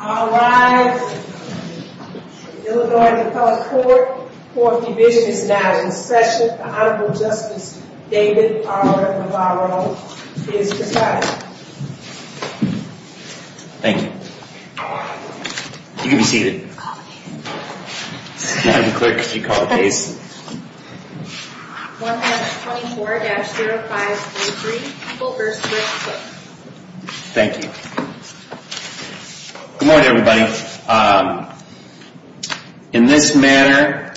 All rise. Illinois Court Division is now in session. The Honorable Justice David R. Navarro is presiding. Thank you. You can be seated. Madam Clerk, could you call the case? 1-24-0543, Cooper v. Cook. Thank you. Good morning, everybody. In this manner,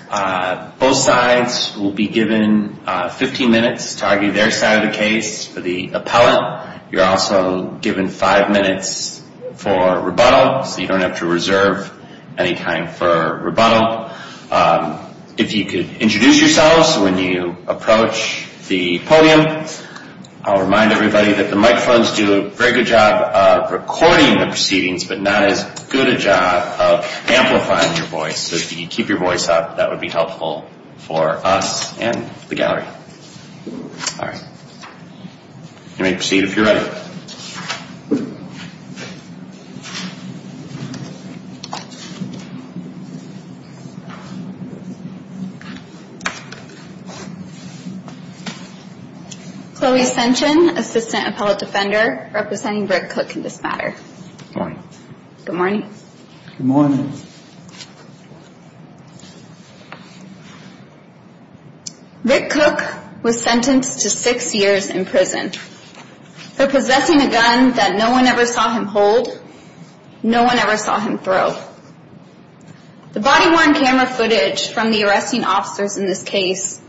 both sides will be given 15 minutes to argue their side of the case for the appellant. You're also given five minutes for rebuttal, so you don't have to reserve any time for rebuttal. If you could introduce yourselves when you approach the podium. I'll remind everybody that the microphones do a very good job of recording the proceedings, but not as good a job of amplifying your voice. So if you could keep your voice up, that would be helpful for us and the gallery. All right. You may proceed if you're ready. Chloe Ascension, Assistant Appellate Defender, representing Rick Cook in this matter. Good morning. Good morning. Good morning. Rick Cook was sentenced to six years in prison for possessing a gun that no one ever saw him hold, no one ever saw him throw. The body-worn camera footage from the arresting officers in this case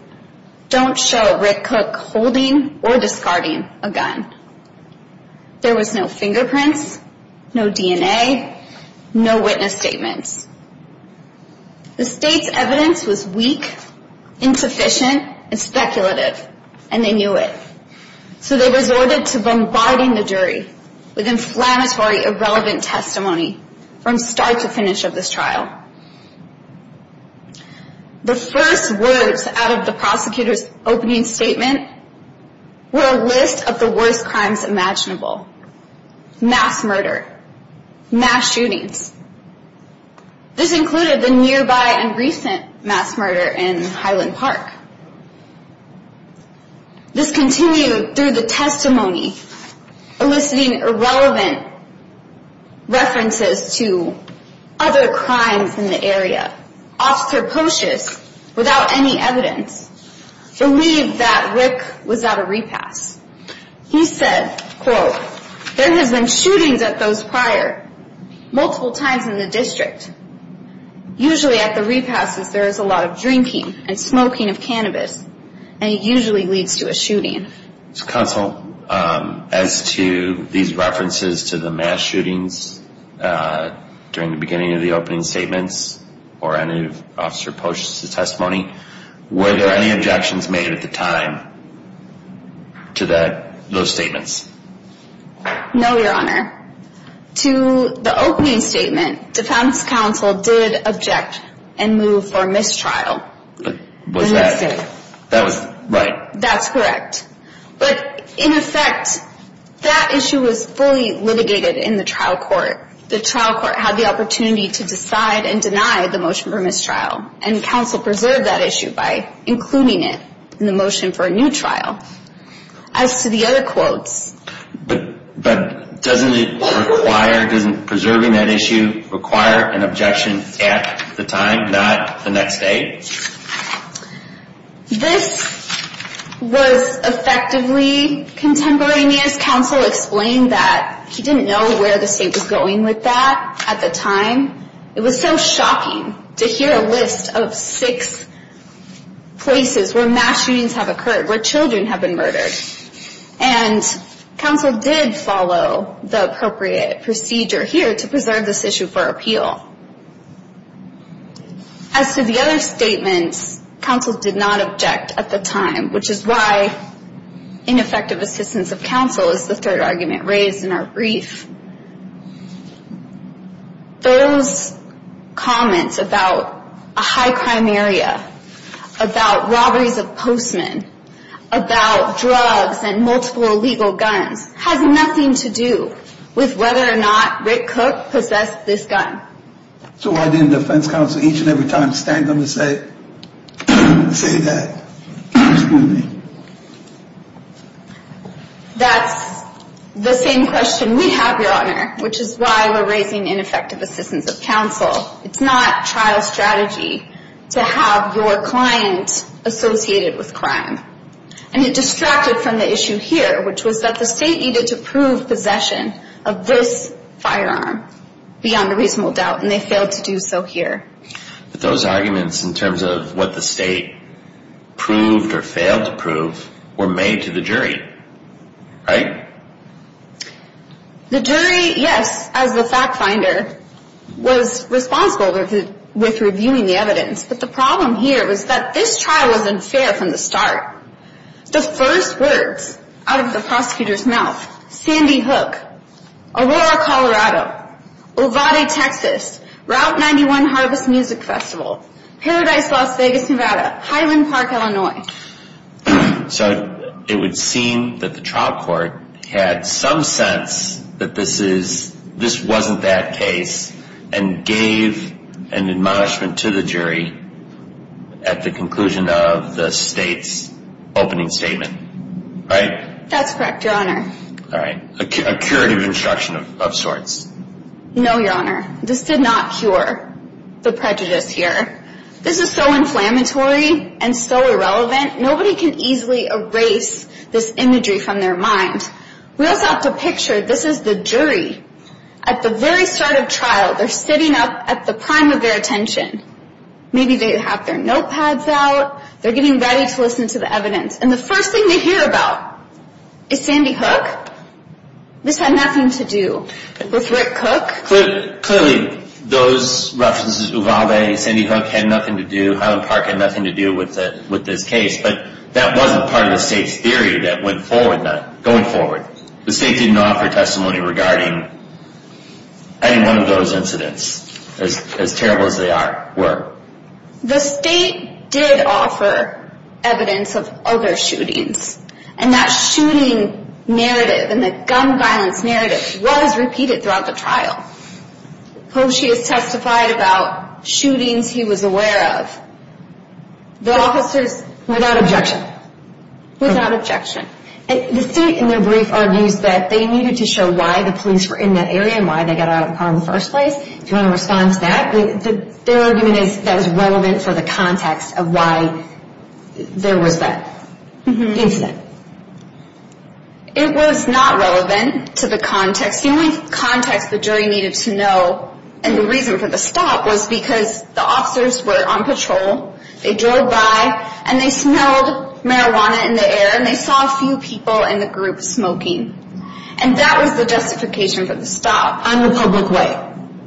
don't show Rick Cook holding or discarding a gun. There was no fingerprints, no DNA, no witness statements. The state's evidence was weak, insufficient, and speculative, and they knew it. So they resorted to bombarding the jury with inflammatory, irrelevant testimony from start to finish of this trial. The first words out of the prosecutor's opening statement were a list of the worst crimes imaginable. Mass murder. Mass shootings. This included the nearby and recent mass murder in Highland Park. This continued through the testimony, eliciting irrelevant references to other crimes in the area. Officer Pocious, without any evidence, believed that Rick was at a repass. He said, quote, there has been shootings at those prior, multiple times in the district. Usually at the repasses there is a lot of drinking and smoking of cannabis, and it usually leads to a shooting. Counsel, as to these references to the mass shootings during the beginning of the opening statements, or any of Officer Pocious' testimony, were there any objections made at the time to those statements? No, Your Honor. To the opening statement, defense counsel did object and move for mistrial. Was that, that was, right. That's correct. But, in effect, that issue was fully litigated in the trial court. The trial court had the opportunity to decide and deny the motion for mistrial, and counsel preserved that issue by including it in the motion for a new trial. As to the other quotes. But doesn't it require, doesn't preserving that issue require an objection at the time, not the next day? This was effectively contemporaneous. Counsel explained that he didn't know where the state was going with that at the time. It was so shocking to hear a list of six places where mass shootings have occurred, where children have been murdered. And counsel did follow the appropriate procedure here to preserve this issue for appeal. As to the other statements, counsel did not object at the time, which is why ineffective assistance of counsel is the third argument raised in our brief. Those comments about a high crime area, about robberies of postmen, about drugs and multiple illegal guns, has nothing to do with whether or not Rick Cook possessed this gun. So why didn't defense counsel each and every time stand up and say, say that? That's the same question we have, Your Honor, which is why we're raising ineffective assistance of counsel. It's not trial strategy to have your client associated with crime. And it distracted from the issue here, which was that the state needed to prove possession of this firearm beyond a reasonable doubt, and they failed to do so here. But those arguments in terms of what the state proved or failed to prove were made to the jury, right? The jury, yes, as the fact finder, was responsible with reviewing the evidence. But the problem here was that this trial was unfair from the start. The first words out of the prosecutor's mouth, Sandy Hook, Aurora, Colorado, Ovade, Texas, Route 91 Harvest Music Festival, Paradise, Las Vegas, Nevada, Highland Park, Illinois. So it would seem that the trial court had some sense that this wasn't that case and gave an admonishment to the jury at the conclusion of the state's opening statement, right? That's correct, Your Honor. All right, a curative instruction of sorts. No, Your Honor. This did not cure the prejudice here. This is so inflammatory and so irrelevant, nobody can easily erase this imagery from their mind. We also have to picture this is the jury. At the very start of trial, they're sitting up at the prime of their attention. Maybe they have their notepads out. They're getting ready to listen to the evidence. And the first thing they hear about is Sandy Hook. This had nothing to do with Rick Cook. Clearly, those references, Ovade, Sandy Hook, had nothing to do, Highland Park had nothing to do with this case. But that wasn't part of the state's theory that went forward, going forward. The state didn't offer testimony regarding any one of those incidents, as terrible as they were. The state did offer evidence of other shootings. And that shooting narrative and the gun violence narrative was repeated throughout the trial. Koshy has testified about shootings he was aware of. The officers, without objection. Without objection. The state, in their brief, argues that they needed to show why the police were in that area and why they got out of the car in the first place. Do you want to respond to that? Their argument is that it was relevant for the context of why there was that incident. It was not relevant to the context. The only context the jury needed to know, and the reason for the stop, was because the officers were on patrol. They drove by and they smelled marijuana in the air and they saw a few people in the group smoking. And that was the justification for the stop. On the public way.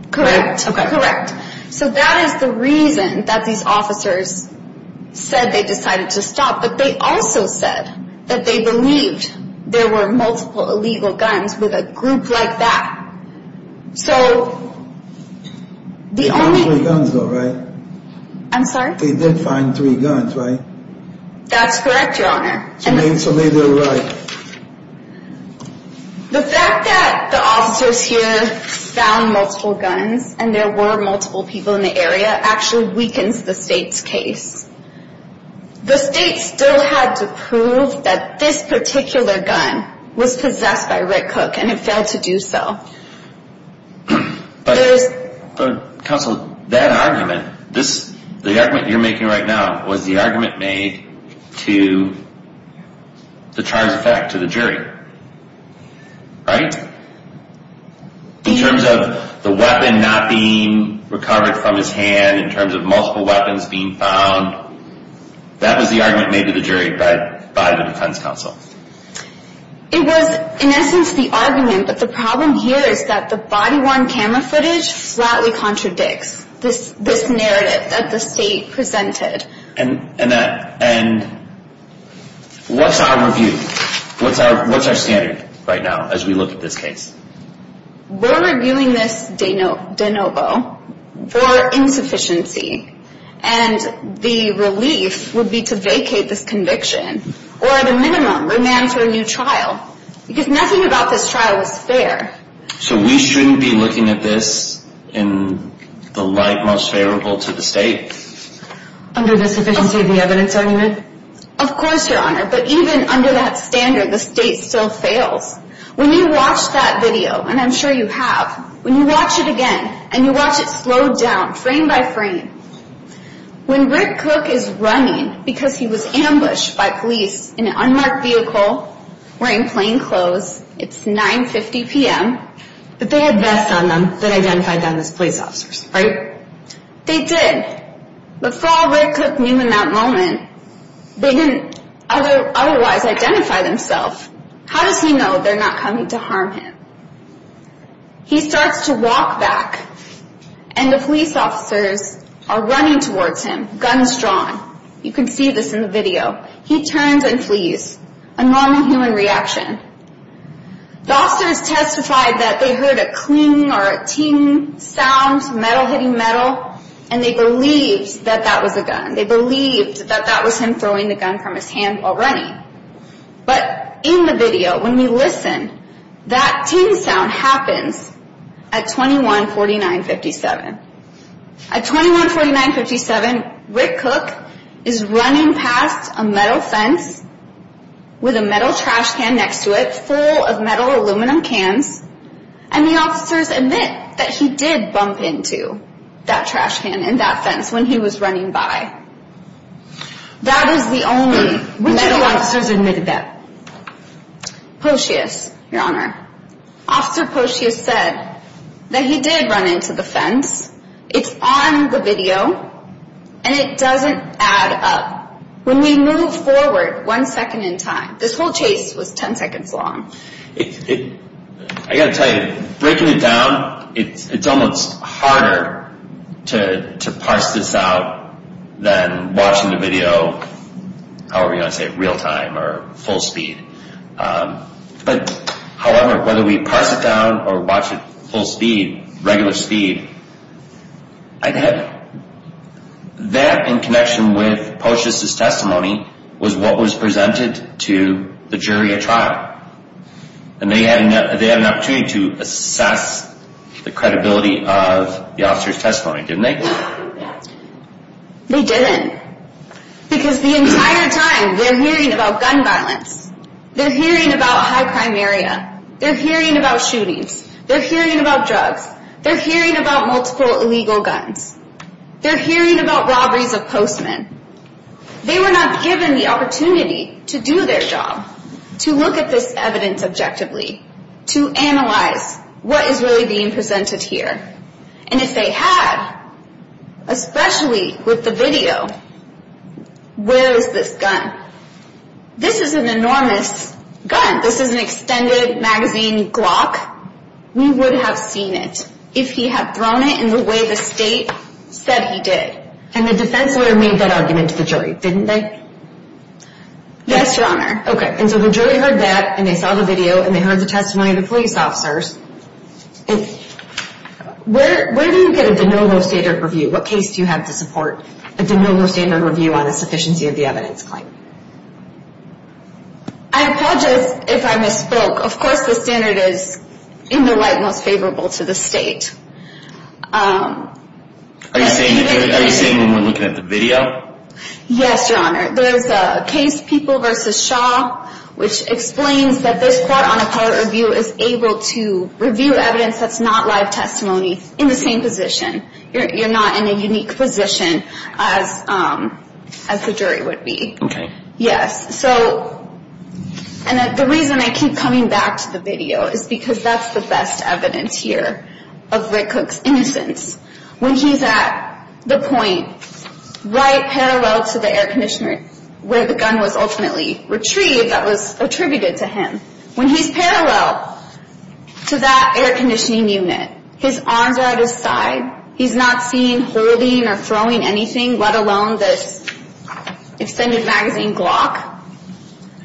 Okay. Correct. So that is the reason that these officers said they decided to stop. But they also said that they believed there were multiple illegal guns with a group like that. So, the only... They found three guns though, right? I'm sorry? They did find three guns, right? That's correct, your honor. So maybe they're right. The fact that the officers here found multiple guns and there were multiple people in the area actually weakens the state's case. The state still had to prove that this particular gun was possessed by Rick Cook and it failed to do so. But counsel, that argument, the argument you're making right now, was the argument made to the charged effect, to the jury, right? In terms of the weapon not being recovered from his hand, in terms of multiple weapons being found, that was the argument made to the jury by the defense counsel. It was, in essence, the argument. But the problem here is that the body-worn camera footage flatly contradicts this narrative that the state presented. And what's our review? What's our standard right now as we look at this case? We're reviewing this de novo for insufficiency. And the relief would be to vacate this conviction or, at a minimum, remand for a new trial. Because nothing about this trial is fair. So we shouldn't be looking at this in the light most favorable to the state? Under the sufficiency of the evidence argument? Of course, Your Honor. But even under that standard, the state still fails. When you watch that video, and I'm sure you have, when you watch it again, and you watch it slowed down frame by frame, when Rick Cook is running because he was ambushed by police in an unmarked vehicle, wearing plain clothes. It's 9.50 p.m. But they had vests on them that identified them as police officers, right? They did. But for all Rick Cook knew in that moment, they didn't otherwise identify themselves. How does he know they're not coming to harm him? He starts to walk back. And the police officers are running towards him, guns drawn. You can see this in the video. He turns and flees, a normal human reaction. The officers testified that they heard a cling or a ting sound, metal hitting metal, and they believed that that was a gun. They believed that that was him throwing the gun from his hand while running. But in the video, when we listen, that ting sound happens at 2149.57. At 2149.57, Rick Cook is running past a metal fence with a metal trash can next to it, full of metal aluminum cans, and the officers admit that he did bump into that trash can and that fence when he was running by. That is the only metal. Which of the officers admitted that? Potius, Your Honor. Officer Potius said that he did run into the fence. It's on the video, and it doesn't add up. When we move forward one second in time, this whole chase was 10 seconds long. I've got to tell you, breaking it down, it's almost harder to parse this out than watching the video, however you want to say it, real time or full speed. However, whether we parse it down or watch it full speed, regular speed, I get it. That, in connection with Potius' testimony, was what was presented to the jury at trial. And they had an opportunity to assess the credibility of the officer's testimony, didn't they? They didn't. Because the entire time, they're hearing about gun violence. They're hearing about high crime area. They're hearing about shootings. They're hearing about drugs. They're hearing about multiple illegal guns. They're hearing about robberies of postmen. They were not given the opportunity to do their job, to look at this evidence objectively, to analyze what is really being presented here. And if they had, especially with the video, where is this gun? This is an enormous gun. This is an extended magazine Glock. We would have seen it if he had thrown it in the way the state said he did. And the defense lawyer made that argument to the jury, didn't they? Yes, Your Honor. Okay. And so the jury heard that, and they saw the video, and they heard the testimony of the police officers. Where do you get a de novo standard review? What case do you have to support a de novo standard review on a sufficiency of the evidence claim? I apologize if I misspoke. Of course, the standard is in the light most favorable to the state. Are you saying when we're looking at the video? Yes, Your Honor. There is a case, People v. Shaw, which explains that this court on appellate review is able to review evidence that's not live testimony in the same position. You're not in a unique position as the jury would be. Okay. Yes. And the reason I keep coming back to the video is because that's the best evidence here of Rick Cooke's innocence. When he's at the point right parallel to the air conditioner where the gun was ultimately retrieved that was attributed to him. When he's parallel to that air conditioning unit, his arms are at his side. He's not seen holding or throwing anything, let alone this extended magazine Glock.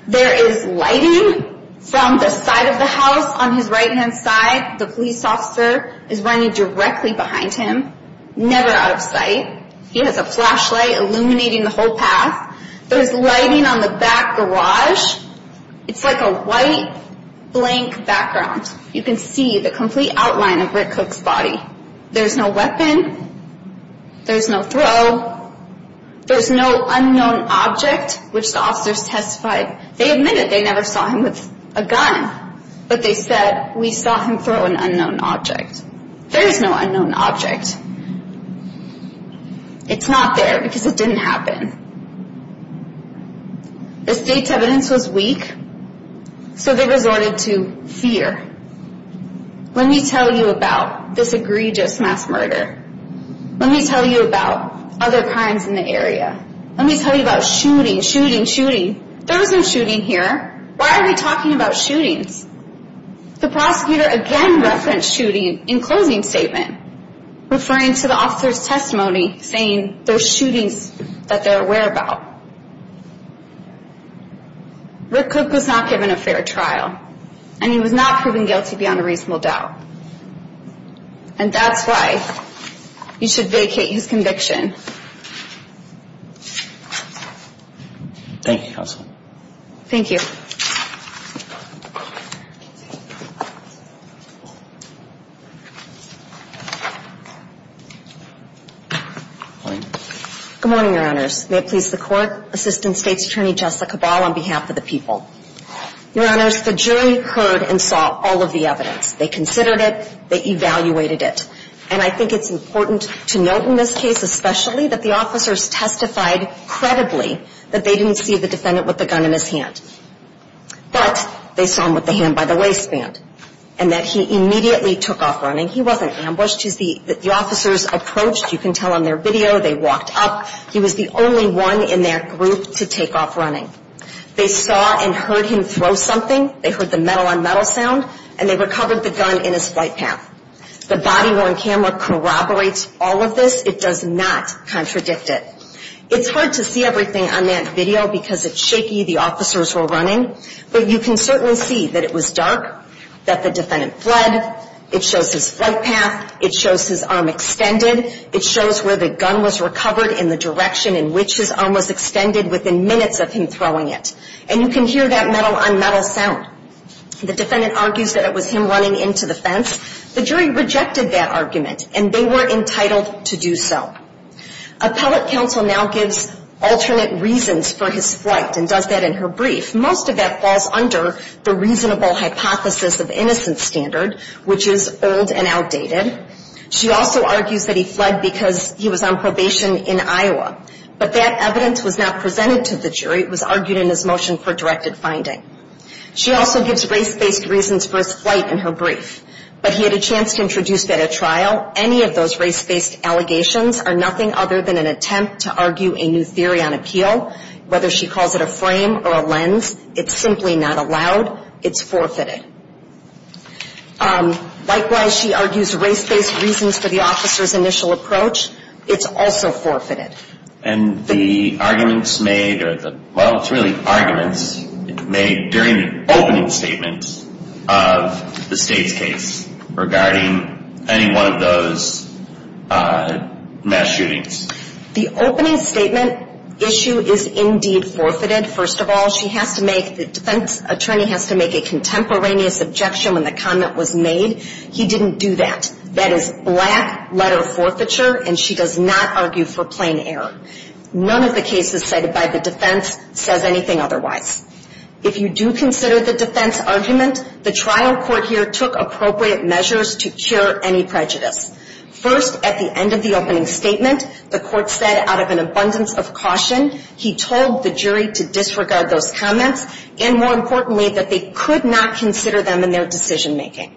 There is lighting from the side of the house on his right-hand side. The police officer is running directly behind him, never out of sight. He has a flashlight illuminating the whole path. There's lighting on the back garage. It's like a white, blank background. You can see the complete outline of Rick Cooke's body. There's no weapon. There's no throw. There's no unknown object, which the officers testified. They admitted they never saw him with a gun, but they said, we saw him throw an unknown object. There is no unknown object. It's not there because it didn't happen. The state's evidence was weak, so they resorted to fear. Let me tell you about this egregious mass murder. Let me tell you about other crimes in the area. Let me tell you about shooting, shooting, shooting. There was no shooting here. Why are we talking about shootings? The prosecutor again referenced shooting in closing statement, referring to the officer's testimony, saying those shootings that they're aware about. Rick Cooke was not given a fair trial, and he was not proven guilty beyond a reasonable doubt. And that's why you should vacate his conviction. Thank you, Counsel. Thank you. Good morning, Your Honors. May it please the Court, Assistant State's Attorney Jessica Ball on behalf of the people. Your Honors, the jury heard and saw all of the evidence. They considered it. They evaluated it. And I think it's important to note in this case especially that the officers testified credibly that they didn't see the defendant with the gun in his hand. But they saw him with the hand by the waistband and that he immediately took off running. He wasn't ambushed. As the officers approached, you can tell on their video, they walked up. He was the only one in their group to take off running. They saw and heard him throw something. They heard the metal-on-metal sound, and they recovered the gun in his flight path. The body-worn camera corroborates all of this. It does not contradict it. It's hard to see everything on that video because it's shaky. The officers were running. But you can certainly see that it was dark, that the defendant fled. It shows his flight path. It shows his arm extended. It shows where the gun was recovered in the direction in which his arm was extended within minutes of him throwing it. And you can hear that metal-on-metal sound. The defendant argues that it was him running into the fence. The jury rejected that argument, and they were entitled to do so. Appellate counsel now gives alternate reasons for his flight and does that in her brief. Most of that falls under the reasonable hypothesis of innocent standard, which is old and outdated. She also argues that he fled because he was on probation in Iowa. But that evidence was not presented to the jury. It was argued in his motion for directed finding. She also gives race-based reasons for his flight in her brief. But he had a chance to introduce that at trial. Any of those race-based allegations are nothing other than an attempt to argue a new theory on appeal. Whether she calls it a frame or a lens, it's simply not allowed. It's forfeited. Likewise, she argues race-based reasons for the officer's initial approach. It's also forfeited. And the arguments made are the, well, it's really arguments made during the opening statement of the state's case regarding any one of those mass shootings. The opening statement issue is indeed forfeited, first of all. She has to make, the defense attorney has to make a contemporaneous objection when the comment was made. He didn't do that. That is black-letter forfeiture, and she does not argue for plain error. None of the cases cited by the defense says anything otherwise. If you do consider the defense argument, the trial court here took appropriate measures to cure any prejudice. First, at the end of the opening statement, the court said, out of an abundance of caution, he told the jury to disregard those comments and, more importantly, that they could not consider them in their decision-making.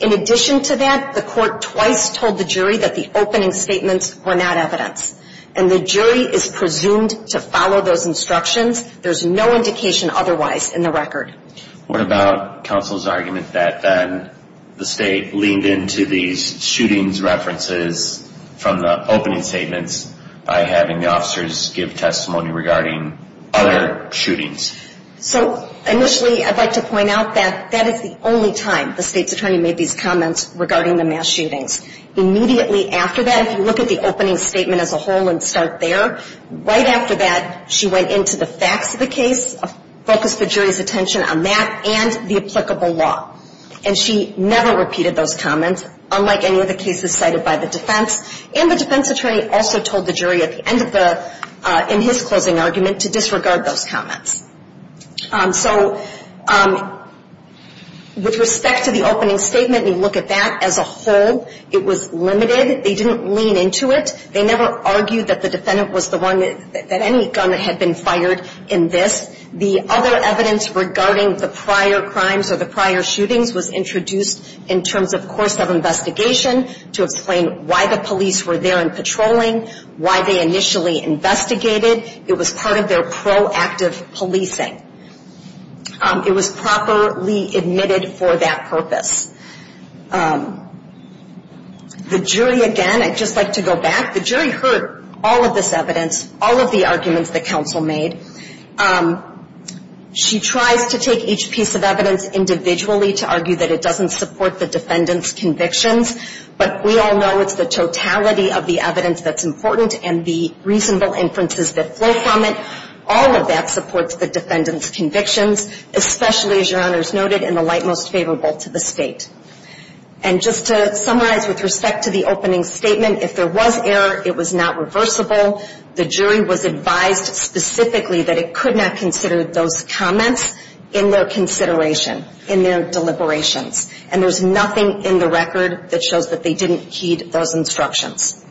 In addition to that, the court twice told the jury that the opening statements were not evidence, and the jury is presumed to follow those instructions. There's no indication otherwise in the record. What about counsel's argument that then the state leaned into these shootings references from the opening statements by having the officers give testimony regarding other shootings? So, initially, I'd like to point out that that is the only time the state's attorney made these comments regarding the mass shootings. Immediately after that, if you look at the opening statement as a whole and start there, right after that she went into the facts of the case, focused the jury's attention on that, and the applicable law. And she never repeated those comments, unlike any of the cases cited by the defense, and the defense attorney also told the jury at the end of the, in his closing argument, to disregard those comments. So, with respect to the opening statement and you look at that as a whole, it was limited. They didn't lean into it. They never argued that the defendant was the one that any gun had been fired in this. The other evidence regarding the prior crimes or the prior shootings was introduced in terms of course of investigation to explain why the police were there and patrolling, why they initially investigated. It was part of their proactive policing. It was properly admitted for that purpose. The jury, again, I'd just like to go back. The jury heard all of this evidence, all of the arguments that counsel made. She tries to take each piece of evidence individually to argue that it doesn't support the defendant's convictions, but we all know it's the totality of the evidence that's important and the reasonable inferences that flow from it. All of that supports the defendant's convictions, especially, as your honors noted, in the light most favorable to the state. And just to summarize with respect to the opening statement, if there was error, it was not reversible. The jury was advised specifically that it could not consider those comments in their consideration, in their deliberations. And there's nothing in the record that shows that they didn't heed those instructions.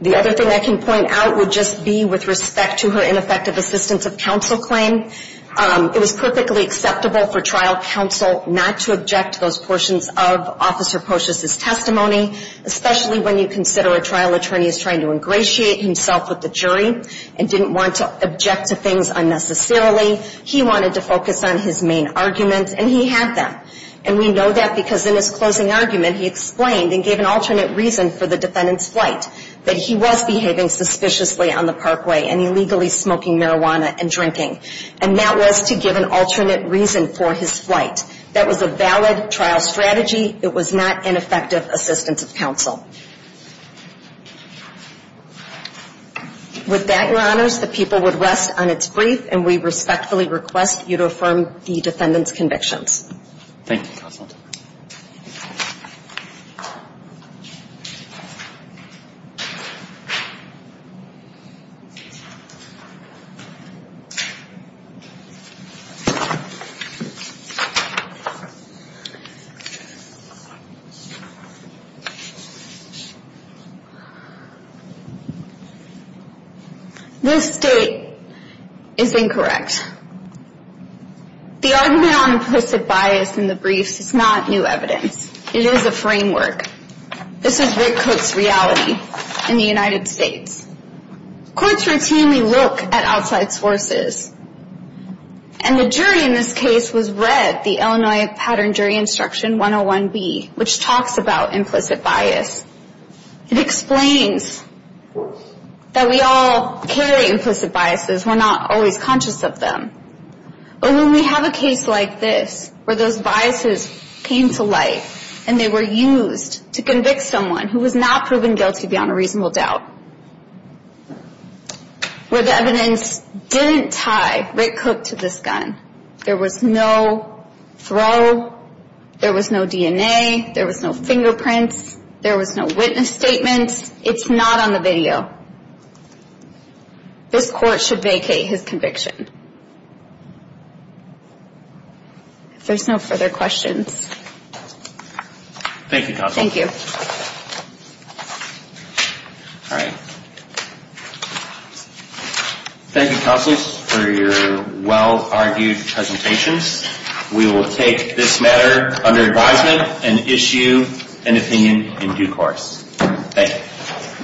The other thing I can point out would just be with respect to her ineffective assistance of counsel claim. It was perfectly acceptable for trial counsel not to object to those portions of Officer Pocious's testimony, especially when you consider a trial attorney is trying to ingratiate himself with the jury and didn't want to object to things unnecessarily. He wanted to focus on his main argument, and he had them. And we know that because in his closing argument he explained and gave an alternate reason for the defendant's flight, that he was behaving suspiciously on the parkway and illegally smoking marijuana and drinking. And that was to give an alternate reason for his flight. That was a valid trial strategy. It was not ineffective assistance of counsel. With that, Your Honors, the people would rest on its brief, and we respectfully request you to affirm the defendant's convictions. Thank you, Counsel. This state is incorrect. The argument on implicit bias in the briefs is not new evidence. It is a framework. This is Rick Coates' reality in the United States. Courts routinely look at outside sources, and the jury in this case was read the Illinois Pattern Jury Instruction 101B, which talks about implicit bias. It explains that we all carry implicit biases. We're not always conscious of them. But when we have a case like this where those biases came to light and they were used to convict someone who was not proven guilty beyond a reasonable doubt, where the evidence didn't tie Rick Coates to this gun, there was no throw, there was no DNA, there was no fingerprints, there was no witness statement. It's not on the video. This court should vacate his conviction. If there's no further questions. Thank you, Counsel. Thank you. All right. Thank you, Counsel, for your well-argued presentations. We will take this matter under advisement and issue an opinion in due course. Thank you.